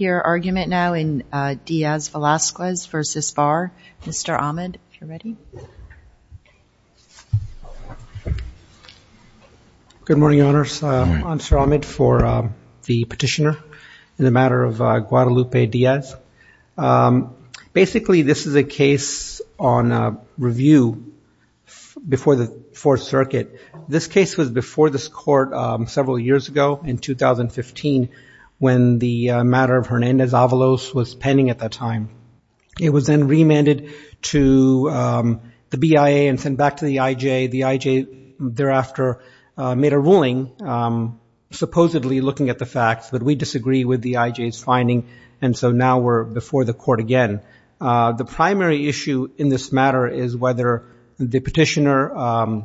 argument now in Diaz-Velasquez versus Barr. Mr. Ahmed if you're ready. Good morning honors. I'm Sir Ahmed for the petitioner in the matter of Guadalupe Diaz. Basically this is a case on review before the Fourth Circuit. This case was before this matter of Hernandez Avalos was pending at that time. It was then remanded to the BIA and sent back to the IJ. The IJ thereafter made a ruling supposedly looking at the facts but we disagree with the IJ's finding and so now we're before the court again. The primary issue in this matter is whether the petitioner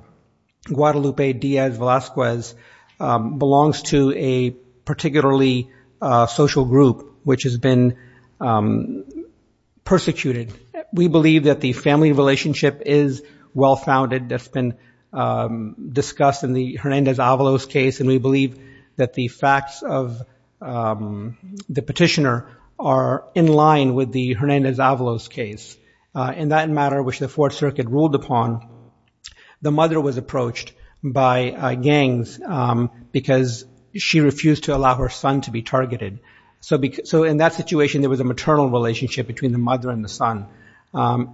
Guadalupe Diaz-Velasquez belongs to a particularly social group which has been persecuted. We believe that the family relationship is well-founded that's been discussed in the Hernandez Avalos case and we believe that the facts of the petitioner are in line with the Hernandez Avalos case. In that matter which the Fourth Circuit ruled upon, the mother was approached by gangs because she refused to allow her son to be targeted. So in that situation there was a maternal relationship between the mother and the son.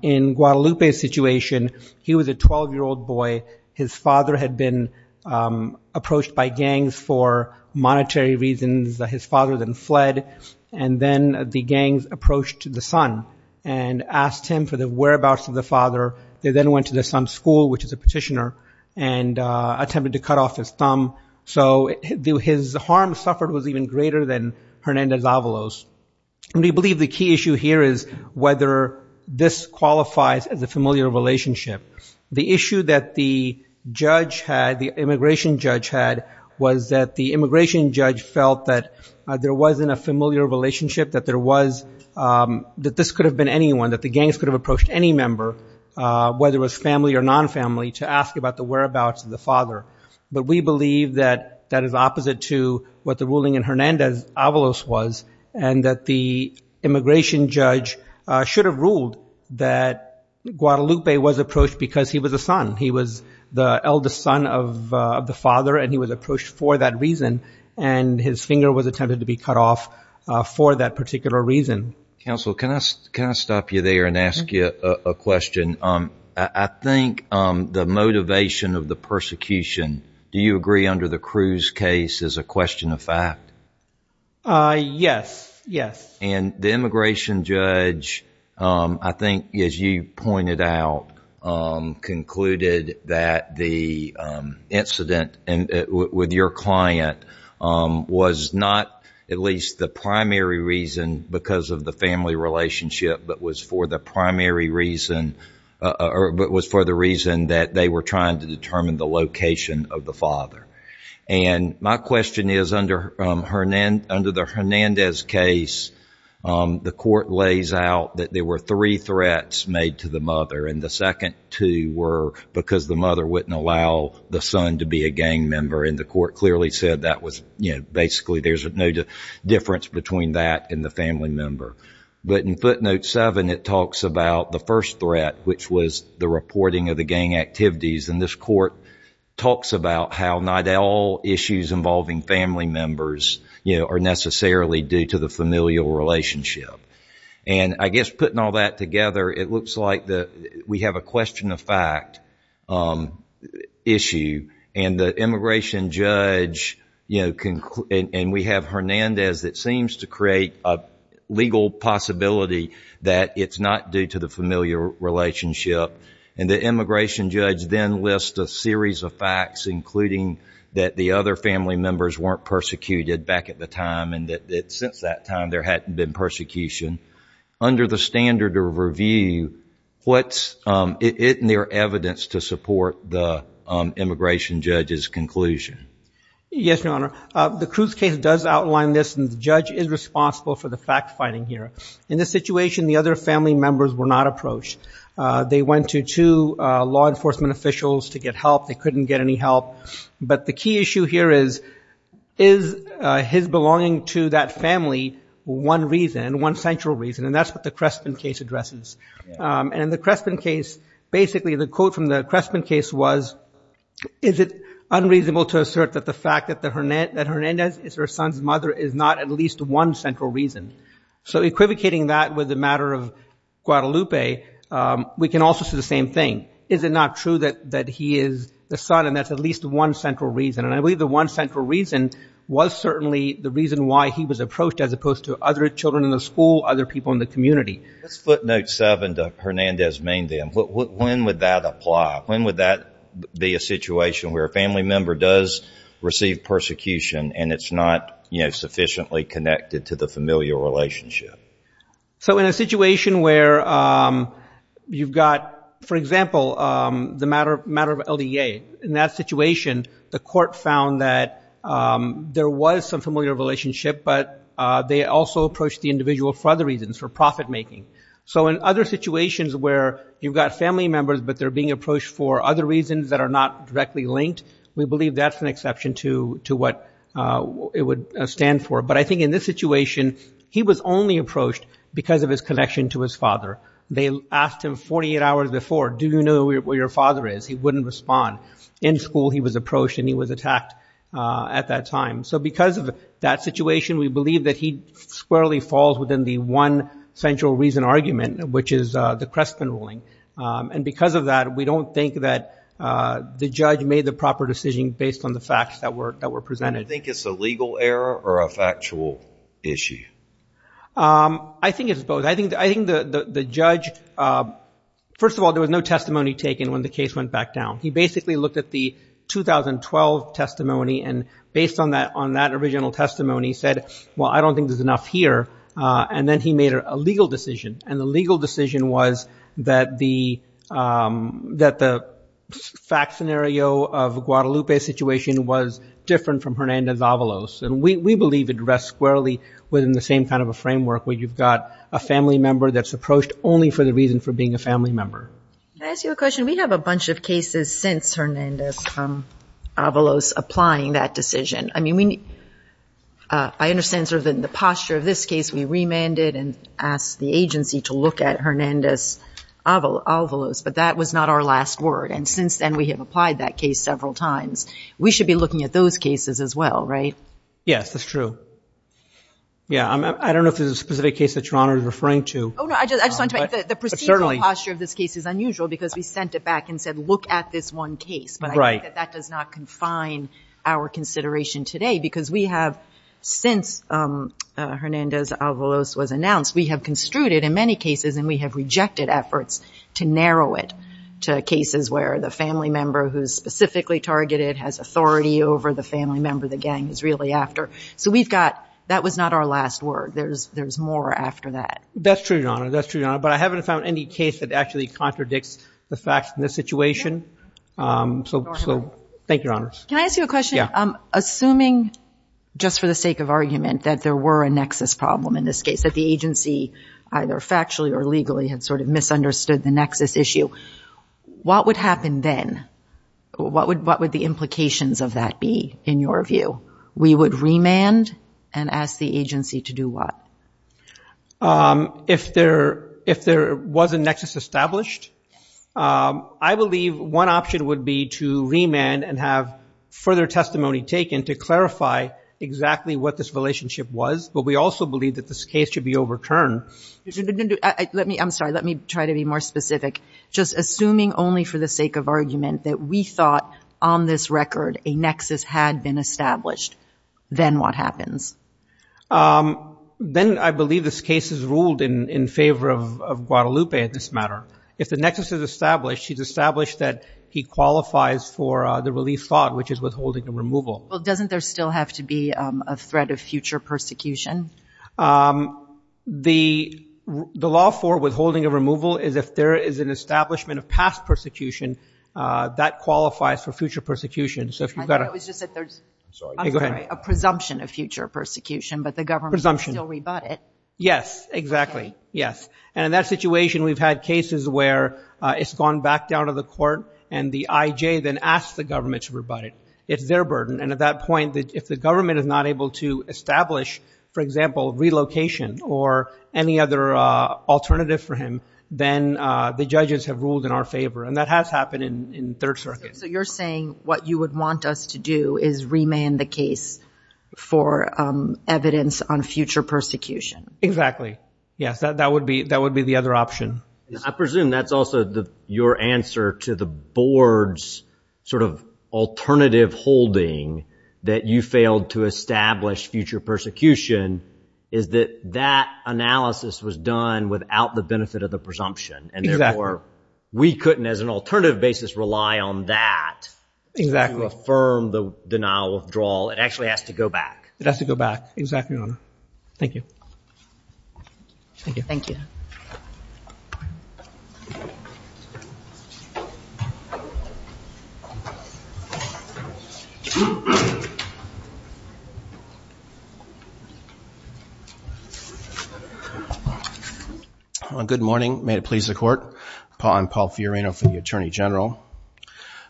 In Guadalupe's situation he was a 12-year-old boy. His father had been approached by gangs for monetary reasons. His father then fled and then the gangs approached the son and asked him for the whereabouts of the father. They then went to the son's school which is a petitioner and attempted to cut off his thumb. So his harm suffered was even greater than Hernandez Avalos. We believe the key issue here is whether this qualifies as a familiar relationship. The issue that the judge had, the immigration judge had, was that the immigration judge felt that there wasn't a familiar relationship, that there was, that this could have been anyone, that the gangs could have approached any member, whether it was family or non-family, to ask about the whereabouts of the father. But we believe that that is opposite to what the ruling in Hernandez Avalos was and that the immigration judge should have ruled that Guadalupe was approached because he was a son. He was the eldest son of the father and he was approached for that reason and his finger was attempted to be cut off for that particular reason. Counsel, can I stop you there and ask you a question? I think the motivation of the persecution, do you agree under the Cruz case, is a question of fact? Yes, yes. And the immigration judge, I think as you pointed out, concluded that the incident with your client was not at least the primary reason because of the family relationship, but was for the reason that they were trying to determine the location of the father. And my question is, under the Hernandez case, the court lays out that there were three threats made to the mother and the second two were because the mother wouldn't allow the son to be a gang member. And the court clearly said that was, basically there's no difference between that and the family member. But in footnote seven, it talks about the first threat, which was the reporting of the gang activities. And this court talks about how not all issues involving family members are necessarily due to the familial relationship. And I guess putting all that together, it looks like we have a question of fact issue and the we have Hernandez that seems to create a legal possibility that it's not due to the familial relationship. And the immigration judge then lists a series of facts, including that the other family members weren't persecuted back at the time and that since that time there hadn't been persecution. Under the standard of review, what's in their evidence to support the immigration judge's conclusion? Yes, Your Honor. The Cruz case does outline this and the judge is responsible for the fact-finding here. In this situation, the other family members were not approached. They went to two law enforcement officials to get help. They couldn't get any help. But the key issue here is, is his belonging to that family one reason, one central reason? And that's what the Crespin case addresses. And in the Crespin case, basically the quote from the Crespin case was, is it unreasonable to assert that the fact that Hernandez is her son's mother is not at least one central reason? So equivocating that with the matter of Guadalupe, we can also say the same thing. Is it not true that he is the son and that's at least one central reason? And I believe the one central reason was certainly the reason why he was approached as opposed to other children in the school, other people in the community. Let's footnote 6-7 to Hernandez-Mindem. When would that apply? When would that be a situation where a family member does receive persecution and it's not sufficiently connected to the familiar relationship? So in a situation where you've got, for example, the matter of LDA, in that situation the court found that there was some familiar relationship but they also approached the individual for other reasons, for profit-making. So in other situations where you've got family members but they're being approached for other reasons that are not directly linked, we believe that's an exception to what it would stand for. But I think in this situation he was only approached because of his connection to his father. They asked him 48 hours before, do you know where your father is? He wouldn't respond. In school he was approached and he was attacked at that time. So because of that situation we believe that he'd squarely falls within the one central reason argument, which is the Crestman ruling. And because of that we don't think that the judge made the proper decision based on the facts that were presented. Do you think it's a legal error or a factual issue? I think it's both. I think the judge, first of all, there was no testimony taken when the case went back down. He basically looked at the 2012 testimony and based on that original testimony said, well I don't think there's enough here. And then he made a legal decision. And the legal decision was that the fact scenario of Guadalupe's situation was different from Hernandez-Avalos. And we believe it rests squarely within the same kind of a framework where you've got a family member that's approached only for the reason for being a family member. Can I ask you a question? We have a bunch of cases since Hernandez-Avalos applying that posture of this case we remanded and asked the agency to look at Hernandez-Avalos but that was not our last word. And since then we have applied that case several times. We should be looking at those cases as well, right? Yes, that's true. Yeah, I don't know if there's a specific case that your Honor is referring to. Oh no, I just want to make the procedural posture of this case is unusual because we sent it back and said look at this one case. But I think that does not confine our consideration today because we have since Hernandez-Avalos was announced, we have construed it in many cases and we have rejected efforts to narrow it to cases where the family member who's specifically targeted has authority over the family member the gang is really after. So we've got, that was not our last word. There's more after that. That's true, Your Honor. That's true, Your Honor. But I haven't found any case that actually contradicts the facts in this situation. So thank you, Your Honor. Can I ask you a question? Assuming, just for the sake of argument, that there were a nexus problem in this case, that the agency either factually or legally had sort of misunderstood the nexus issue, what would happen then? What would the implications of that be in your view? We would remand and ask the agency to do what? If there was a nexus established, I believe one option would be to remand and have further testimony taken to clarify exactly what this relationship was. But we also believe that this case should be overturned. Let me, I'm sorry, let me try to be more specific. Just assuming only for the sake of argument that we thought on this record a nexus had been established, then what happens? Then I believe this case is ruled in favor of Guadalupe in this matter. If the case is ruled in favor of Guadalupe in this matter, then the case is ruled in favor of Guadalupe in this matter. Well, doesn't there still have to be a threat of future persecution? The law for withholding a removal is if there is an establishment of past persecution, that qualifies for future persecution. I thought it was just that there's a presumption of future persecution, but the government can still rebut it. Yes, exactly. Yes. And in that situation, we've had cases where it's gone back down to the court and the IJ then asks the government to rebut it. It's their burden. And at that point, if the government is not able to establish, for example, relocation or any other alternative for him, then the judges have ruled in our favor. And that has happened in Third Circuit. So you're saying what you would want us to do is remand the case for evidence on future persecution? Exactly. Yes, that would be the other option. I presume that's also your answer to the board's sort of alternative holding that you failed to establish future persecution is that that analysis was done without the benefit of the presumption and therefore we couldn't, as an alternative basis, rely on that to affirm the denial withdrawal. It actually has to go back. It has to go back. Exactly, Your Honor. Thank you. Thank you. Good morning. May it please the Court. I'm Paul Fiorino for the Attorney General.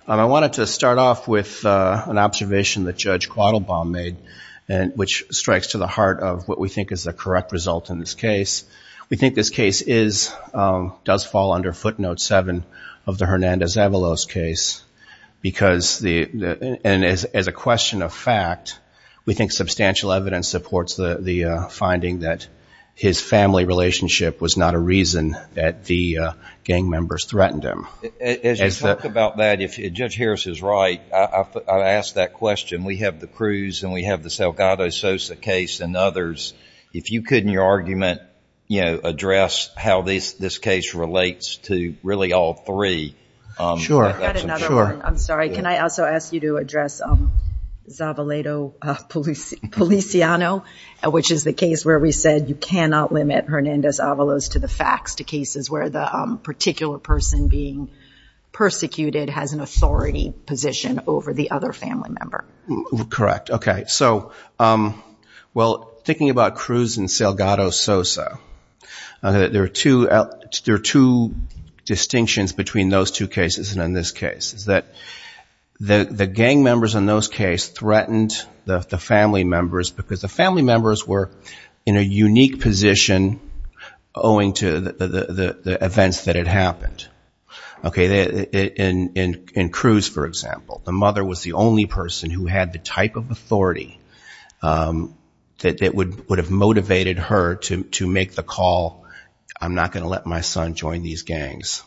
I wanted to start off with an observation that Judge Quattlebaum made which strikes to the heart of what we think is the correct result in this case. We think this case does fall under Footnote 7 of the Hernandez-Avalos case because, as a question of fact, we think substantial evidence supports the finding that his family relationship was not a reason that the gang members threatened him. As you talk about that, if Judge Harris is right, I ask that question. We have the Cruz and we have the Salgado-Sosa case and others. If you could, in your argument, address how this case relates to really all three. Sure. I've got another one. I'm sorry. Can I also ask you to address Zavalado Policiano, which is the case where we said you cannot limit Hernandez-Avalos to the facts, to cases where the particular person being persecuted has an authority position over the other family member. Correct. Thinking about Cruz and Salgado-Sosa, there are two distinctions between those two cases and in this case. The gang members in those cases threatened the family members because the family members were in a unique position owing to the events that had happened. In Cruz, for example, the family member who had the type of authority that would have motivated her to make the call, I'm not going to let my son join these gangs.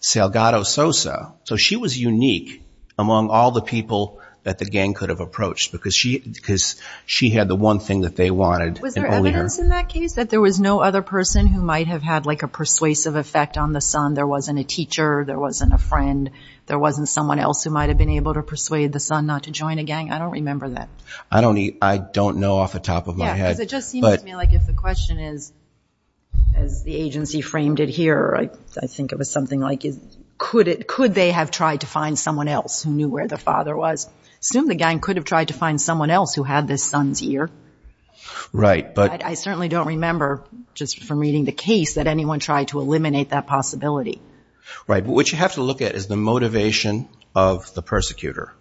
Salgado-Sosa, so she was unique among all the people that the gang could have approached because she had the one thing that they wanted. Was there evidence in that case that there was no other person who might have had like a persuasive effect on the son? There wasn't a teacher, there wasn't a friend, there wasn't someone else who might have been able to join a gang. I don't remember that. I don't know off the top of my head. It just seems to me like if the question is, as the agency framed it here, I think it was something like, could they have tried to find someone else who knew where the father was? Assume the gang could have tried to find someone else who had this son's ear. I certainly don't remember, just from reading the case, that anyone tried to eliminate that possibility. What you have to target is the motivation of the persecutor.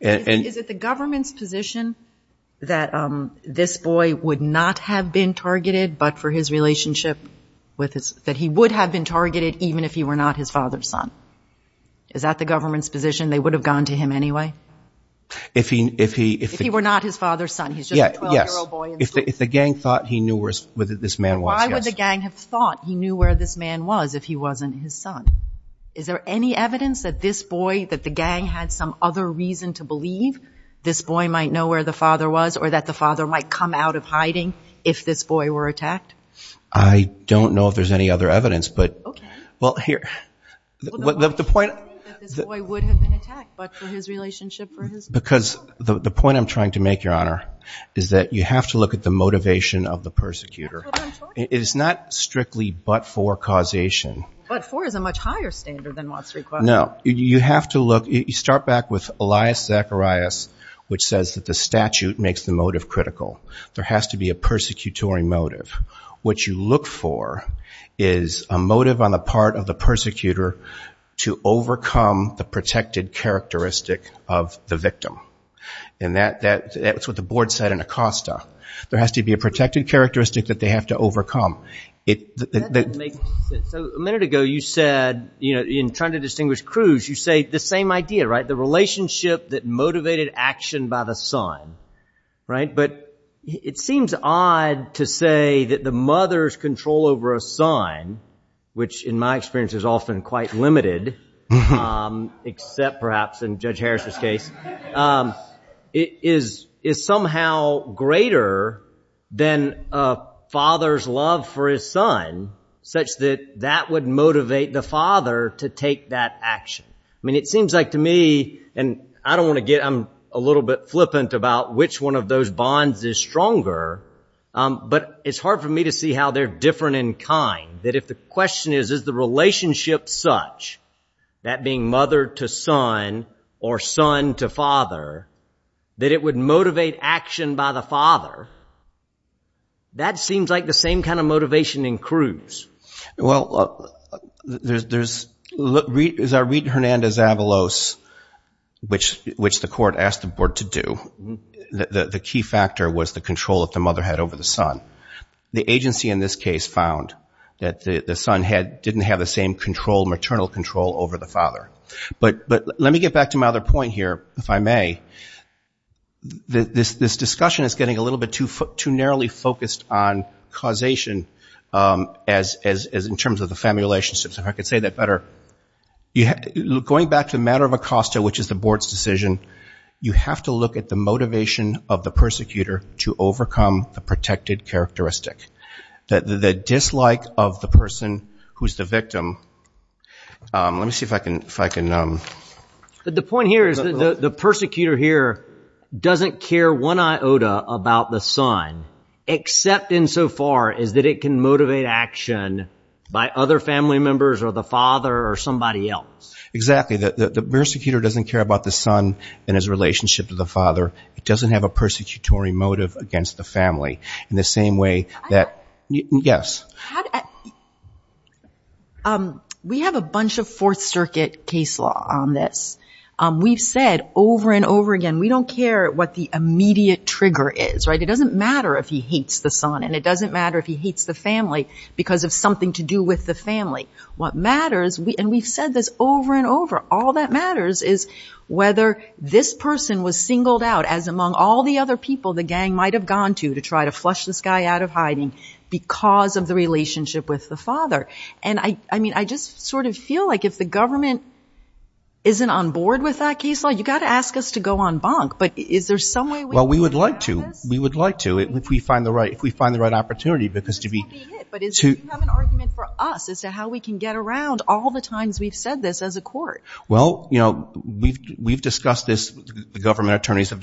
Is it the government's position that this boy would not have been targeted, but for his relationship, that he would have been targeted even if he were not his father's son? Is that the government's position? They would have gone to him anyway? If he were not his father's son, he's just a 12-year-old boy. Yes. If the gang thought he knew where this man was, yes. Why would the gang have any evidence that this boy, that the gang had some other reason to believe this boy might know where the father was or that the father might come out of hiding if this boy were attacked? I don't know if there's any other evidence, but the point I'm trying to make, Your Honor, is that you have to look at the motivation of the persecutor. It is not strictly but-for causation. But-for is a much higher standard than what's required. No. You have to look. You start back with Elias Zacharias, which says that the statute makes the motive critical. There has to be a persecutory motive. What you look for is a motive on the part of the persecutor to overcome the protected characteristic of the victim. And that's what the board said in Acosta. There has to be a So a minute ago you said, you know, in trying to distinguish Cruz, you say the same idea, right? The relationship that motivated action by the son, right? But it seems odd to say that the mother's control over a son, which in my experience is often quite limited, except perhaps in Judge Harris's case, is somehow greater than a father's love for his son, such that that would motivate the father to take that action. I mean, it seems like to me, and I don't want to get, I'm a little bit flippant about which one of those bonds is stronger, but it's hard for me to see how they're different in kind. That if the question is, is the relationship such, that being mother to son or son to action by the father, that seems like the same kind of motivation in Cruz. Well, there's, there's, look, is our Reed Hernandez Avalos, which, which the court asked the board to do, the key factor was the control of the mother had over the son. The agency in this case found that the son had, didn't have the same control, maternal control over the father. But, but let me get back to my other point here, if I may. This, this discussion is getting a little bit too, too narrowly focused on causation as, as, as in terms of the family relationships. If I could say that better. You have, going back to the matter of Acosta, which is the board's decision, you have to look at the motivation of the persecutor to overcome the protected characteristic. That the dislike of the person who's the persecutor here doesn't care one iota about the son, except insofar as that it can motivate action by other family members or the father or somebody else. Exactly. The persecutor doesn't care about the son and his relationship to the father. It doesn't have a persecutory motive against the family in the same way that, yes. We have a bunch of Fourth Circuit case law on this. We've said over and over again, we don't care what the immediate trigger is, right? It doesn't matter if he hates the son and it doesn't matter if he hates the family because of something to do with the family. What matters, we, and we've said this over and over, all that matters is whether this person was singled out as among all the other people the gang might have gone to to try to flush this guy out of hiding because of the relationship with the father. And I, I mean, I just sort of feel like if the government isn't on board with that case law, you got to ask us to go on bunk. But is there some way we can do this? Well, we would like to. We would like to, if we find the right, if we find the right opportunity because to be. But do you have an argument for us as to how we can get around all the times we've said this as a court? Well, you know, we've, we've discussed this, the government and as the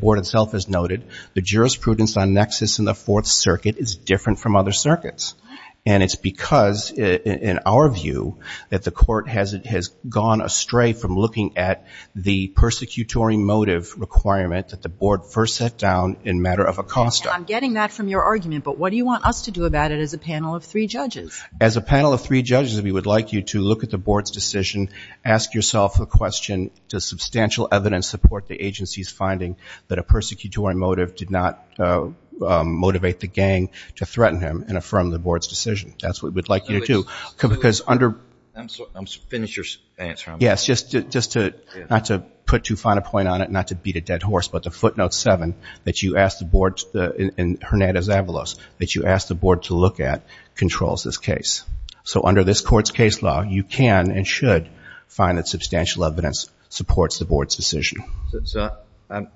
board itself has noted, the jurisprudence on nexus in the fourth circuit is different from other circuits. And it's because in our view that the court has, it has gone astray from looking at the persecutory motive requirement that the board first set down in matter of Acosta. I'm getting that from your argument, but what do you want us to do about it as a panel of three judges? As a panel of three judges, we would like you to look at the board's decision, ask yourself a question, does substantial evidence support the agency's finding that a persecutory motive did not motivate the gang to threaten him and affirm the board's decision? That's what we'd like you to do. Because under, I'm sorry, finish your answer. Yes, just, just to, not to put too fine a point on it, not to beat a dead horse, but the footnote seven that you asked the board, in Hernandez-Avalos, that you asked the board to look at controls this case. So under this court's case law, you can and should find that substantial evidence supports the board's decision.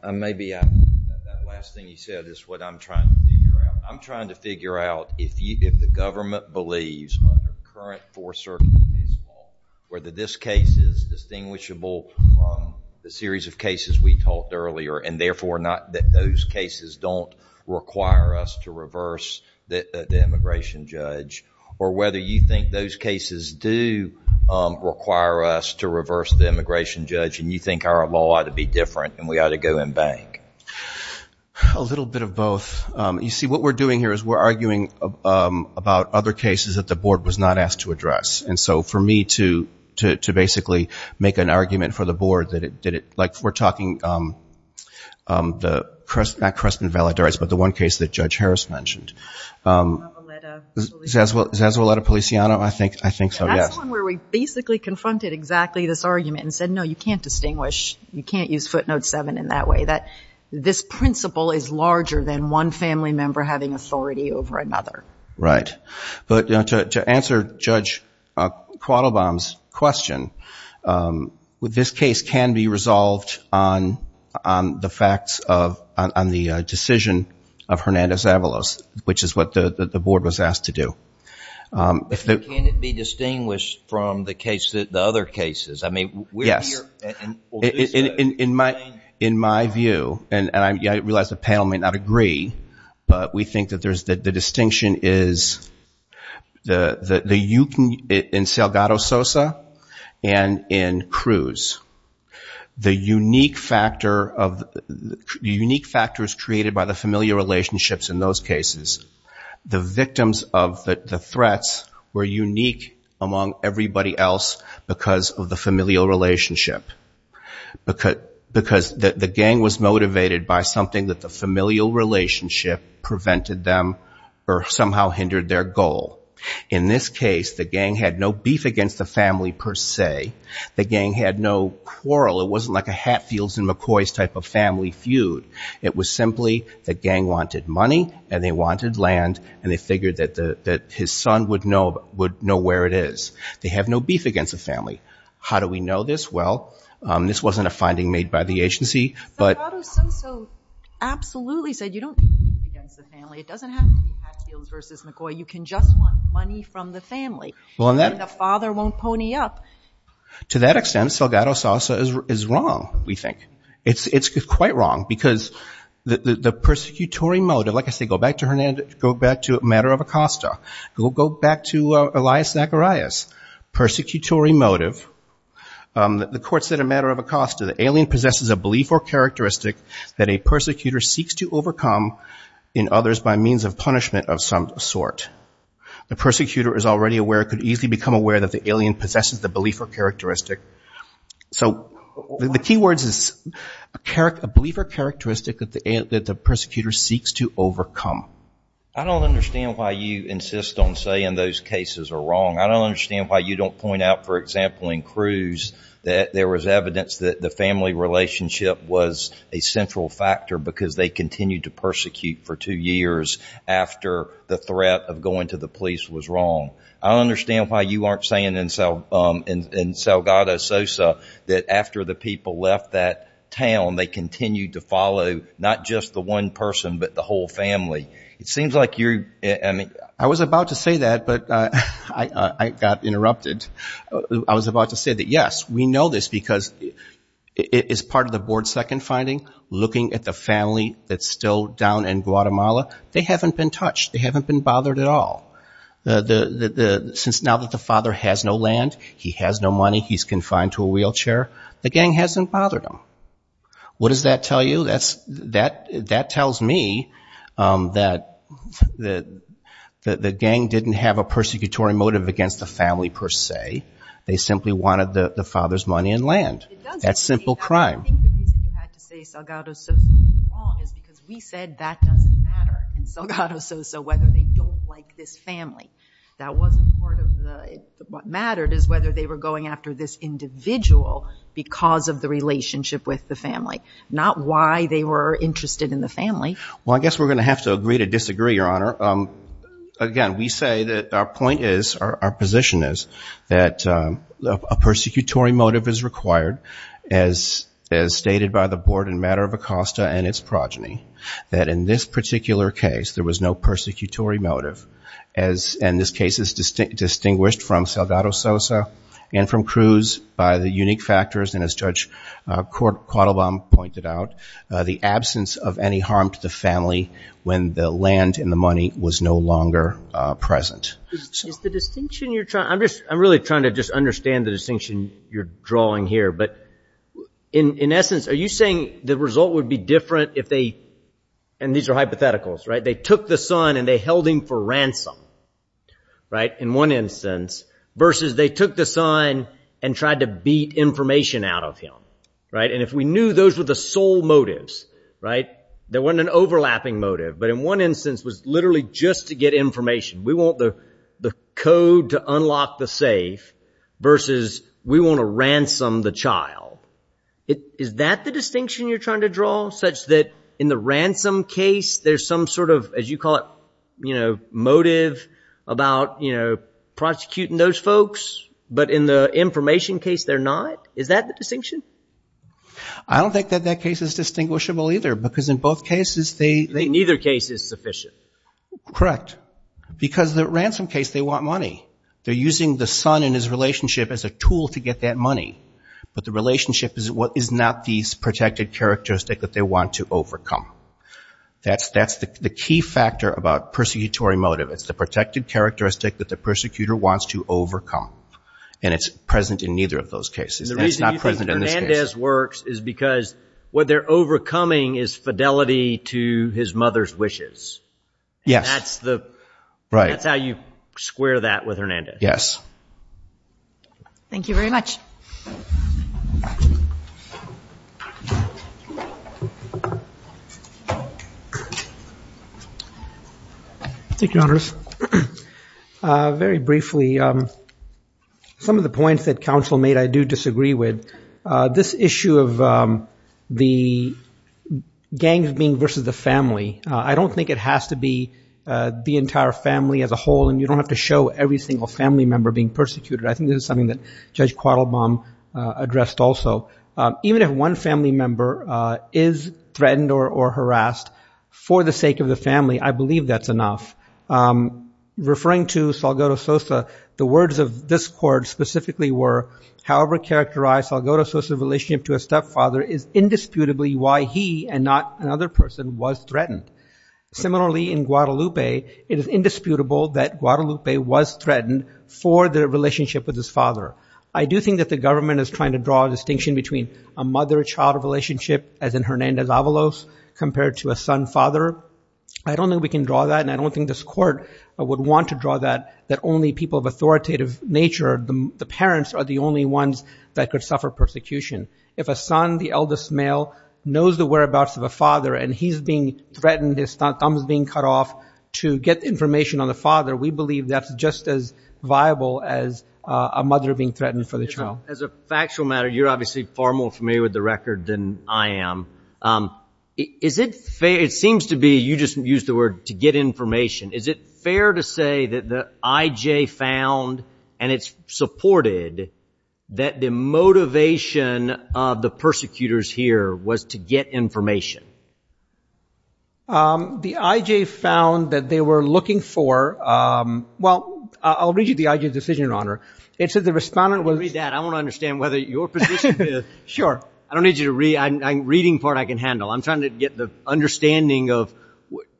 I may be out. That last thing you said is what I'm trying to figure out. I'm trying to figure out if you, if the government believes under current Fourth Circuit law, whether this case is distinguishable from the series of cases we talked earlier, and therefore not that those cases don't require us to reverse the immigration judge, or whether you think those cases do require us to reverse the immigration judge, and you think our law ought to be different and we ought to go and bank? A little bit of both. You see, what we're doing here is we're arguing about other cases that the board was not asked to address. And so for me to, to basically make an argument for the board that it did it, like we're talking the, not Creston-Valladares, but the one case that Judge Harris mentioned. Zazualeta-Policiano? I think, I think so, yes. Where we basically confronted exactly this argument and said, no, you can't distinguish, you can't use footnote 7 in that way, that this principle is larger than one family member having authority over another. Right. But to answer Judge Quattlebaum's question, this case can be resolved on, on the facts of, on the decision of Hernandez-Avalos, which is what the, the board was asked to do. If the... Can it be distinguished from the case that, the other cases? I mean, we're... Yes. In, in, in my, in my view, and I realize the panel may not agree, but we think that there's, that the distinction is the, the, you can, in Salgado-Sosa and in Cruz. The unique factor of, the unique factors created by the familial relationships in those cases, the victims of the, the threats were unique among everybody else because of the familial relationship. Because, because the, the gang was motivated by something that the familial relationship prevented them or somehow hindered their goal. In this case, the gang had no beef against the family. The gang had no quarrel. It wasn't like a Hatfields and McCoy's type of family feud. It was simply the gang wanted money and they wanted land and they figured that the, that his son would know, would know where it is. They have no beef against the family. How do we know this? Well, this wasn't a finding made by the agency, but... Salgado-Sosa absolutely said you don't have to have beef against the family. It doesn't have to be Hatfields versus McCoy. You can just want money from the family. And the father won't pony up. To that extent, Salgado-Sosa is wrong, we think. It's, it's quite wrong because the, the, the persecutory motive, like I say, go back to Hernandez, go back to a matter of Acosta, go, go back to Elias Zacharias. Persecutory motive. The court said a matter of Acosta, the alien possesses a belief or characteristic that a persecutor seeks to overcome in others by means of self-defense. So, the, the key words is character, a belief or characteristic that the, that the persecutor seeks to overcome. I don't understand why you insist on saying those cases are wrong. I don't understand why you don't point out, for example, in Cruz that there was evidence that the family relationship was a central factor because they continued to persecute for two years after the threat of going to the police was wrong. I don't understand why you aren't saying in, in Salgado Sosa that after the people left that town, they continued to follow not just the one person but the whole family. It seems like you're, I mean. I was about to say that, but I, I, I got interrupted. I was about to say that yes, we know this because it, it is part of the board's second finding, looking at the family that's still down in Guatemala. They haven't been touched. They haven't been bothered at all. The, the, the, the, since now that the father has no land, he has no money, he's confined to a wheelchair, the gang hasn't bothered him. What does that tell you? That's, that, that tells me that, that, that the gang didn't have a persecutory motive against the family per se. They simply wanted the family. That wasn't part of the, what mattered is whether they were going after this individual because of the relationship with the family, not why they were interested in the family. Well, I guess we're going to have to agree to disagree, Your Honor. Again, we say that our point is, our, our position is that a persecutory motive is required as, as stated by the board in matter of Acosta and its progeny, that in this particular case, there was no persecutory motive as, and this case is distinguished from Saldado Sosa and from Cruz by the unique factors and as Judge Quattlebaum pointed out, the absence of any harm to the family when the land and the money was no longer present. Is the distinction you're trying, I'm just, I'm really trying to just understand the distinction you're if they, and these are hypotheticals, right? They took the son and they held him for ransom, right? In one instance, versus they took the son and tried to beat information out of him, right? And if we knew those were the sole motives, right? There weren't an overlapping motive, but in one instance was literally just to get information. We want the, the code to unlock the safe versus we want to such that in the ransom case there's some sort of, as you call it, you know, motive about, you know, prosecuting those folks, but in the information case they're not? Is that the distinction? I don't think that that case is distinguishable either, because in both cases they... In either case it's sufficient. Correct. Because the ransom case, they want money. They're using the son and his relationship as a tool to get that money, but the relationship is not these protected characteristic that they want to overcome. That's, that's the key factor about persecutory motive. It's the protected characteristic that the persecutor wants to overcome, and it's present in neither of those cases. It's not present in this case. The reason you think Hernandez works is because what they're overcoming is fidelity to his mother's wishes. Yes. That's the... Right. That's how you square that with Hernandez. Yes. Thank you very much. Thank you, Your Honors. Very briefly, some of the points that counsel made I do disagree with. This issue of the gangs being versus the family, I don't think it has to be the entire family as a whole, and you don't have to show every single family member being persecuted. I think this is something that Judge Quattlebaum addressed also. Even if one family member is threatened or harassed for the sake of the family, I believe that's enough. Referring to Salgado Sosa, the words of this court specifically were, however characterized Salgado Sosa's relationship to a stepfather is indisputably why he, and not another person, was threatened. Similarly, in Guadalupe, it is indisputable that Guadalupe was threatened for the relationship with his father. I do think that the government is trying to draw a distinction between a mother-child relationship, as in Hernandez-Avalos, compared to a son-father. I don't think we can draw that, and I don't think this court would want to draw that, that only people of authoritative nature, the parents, are the only ones that could suffer persecution. If a son, the eldest he's being threatened, his thumb is being cut off to get information on the father, we believe that's just as viable as a mother being threatened for the child. As a factual matter, you're obviously far more familiar with the record than I am. Is it fair, it seems to be, you just used the word, to get information. Is it fair to say that the IJ found, and it's supported, that the IJ found that they were looking for, well, I'll read you the IJ's decision, your Honor. It says the respondent was... I want to read that, I want to understand whether your position is... Sure. I don't need you to read, I'm reading part I can handle. I'm trying to get the understanding of,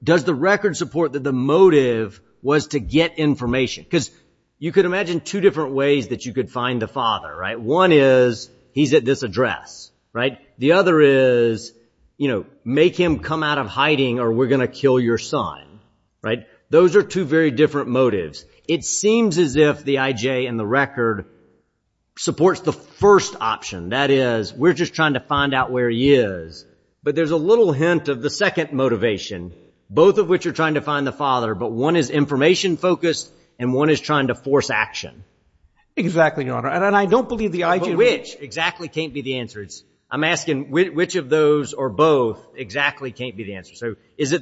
does the record support that the motive was to get information? Because you could imagine two different ways that you could find the father, right? One is, he's at this address, right? The other is, you know, make him come out of hiding or we're gonna kill your son, right? Those are two very different motives. It seems as if the IJ and the record supports the first option, that is, we're just trying to find out where he is, but there's a little hint of the second motivation, both of which are trying to find the father, but one is information focused and one is trying to force action. Exactly, your Honor, and I don't believe the IJ... Which exactly can't be the answer? I'm asking which of those or both exactly can't be the answer? So is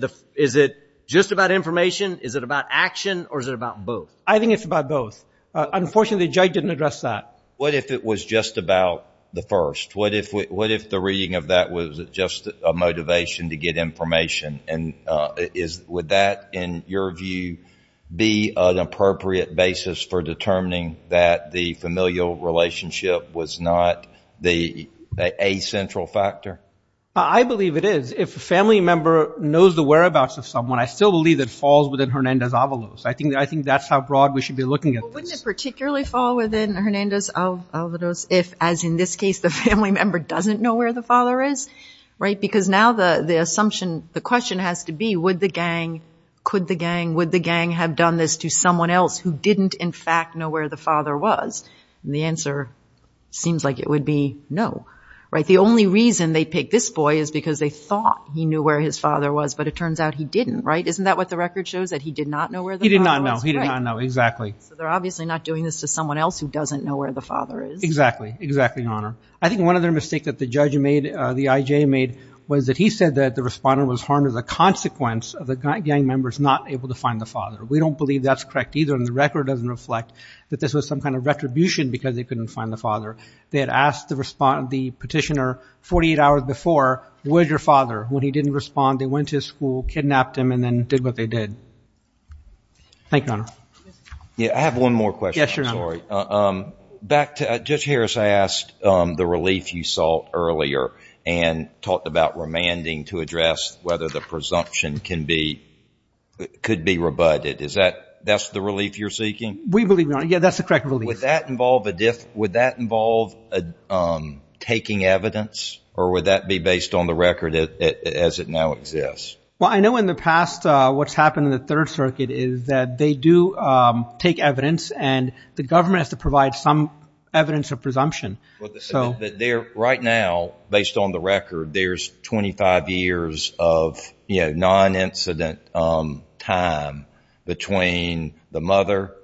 it just about information? Is it about action? Or is it about both? I think it's about both. Unfortunately, Judge didn't address that. What if it was just about the first? What if the reading of that was just a motivation to get information? And would that, in your view, be an appropriate basis for determining that the familial relationship was not a central factor? I believe it is. If a family member knows the whereabouts of someone, I still believe that falls within Hernandez-Avalos. I think that's how broad we should be looking at this. Wouldn't it particularly fall within Hernandez-Avalos if, as in this case, the family member doesn't know where the father is, right? Because now the assumption, the question has to be, would the gang, could the gang, have done this to someone else who didn't, in fact, know where the father was? And the answer seems like it would be no, right? The only reason they picked this boy is because they thought he knew where his father was, but it turns out he didn't, right? Isn't that what the record shows, that he did not know where the father was? He did not know. He did not know, exactly. So they're obviously not doing this to someone else who doesn't know where the father is. Exactly, exactly, Your Honor. I think one other mistake that the judge made, the IJ made, was that he said that the respondent was harmed as a consequence of the gang members not able to find the father. We don't believe that's correct either, and the record doesn't reflect that this was some kind of retribution because they couldn't find the father. They had asked the respondent, the petitioner, 48 hours before, where's your father? When he didn't respond, they went to his school, kidnapped him, and then did what they did. Thank you, Your Honor. Yeah, I have one more question. Yes, Your Honor. Back to, Judge Harris, I asked the relief you saw earlier and talked about remanding to address whether the presumption can be, could be rebutted. Is that, that's the relief you're seeking? We believe, Your Honor. Yeah, that's the correct relief. Would that involve a, would that involve taking evidence, or would that be based on the record as it now exists? Well, I know in the past what's happened in the Third Circuit is that they do take evidence, and the government has to provide some evidence of presumption, so. But there, right now, based on the record, there's 25 years of, you know, non-incident time between the mother,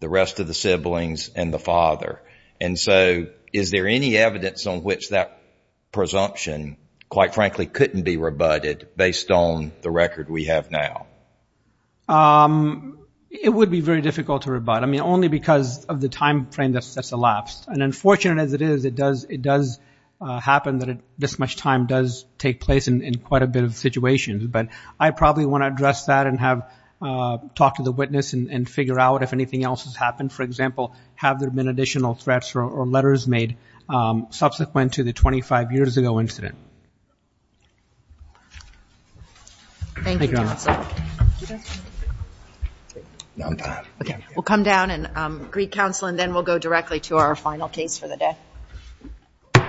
the rest of the siblings, and the father. And so, is there any evidence on which that presumption, quite frankly, couldn't be rebutted based on the record we have now? It would be very difficult to rebut. I mean, only because of the time frame that's elapsed. And unfortunate as it is, it does, it does happen that this much time does take place in quite a bit of situations. But I probably want to address that and have, talk to the witness and figure out if anything else has happened. For example, have there been additional threats or letters made subsequent to the 25 years ago incident? Thank you, Your Honor. Okay, we'll come down and greet counsel, and then we'll go directly to our final case for the day.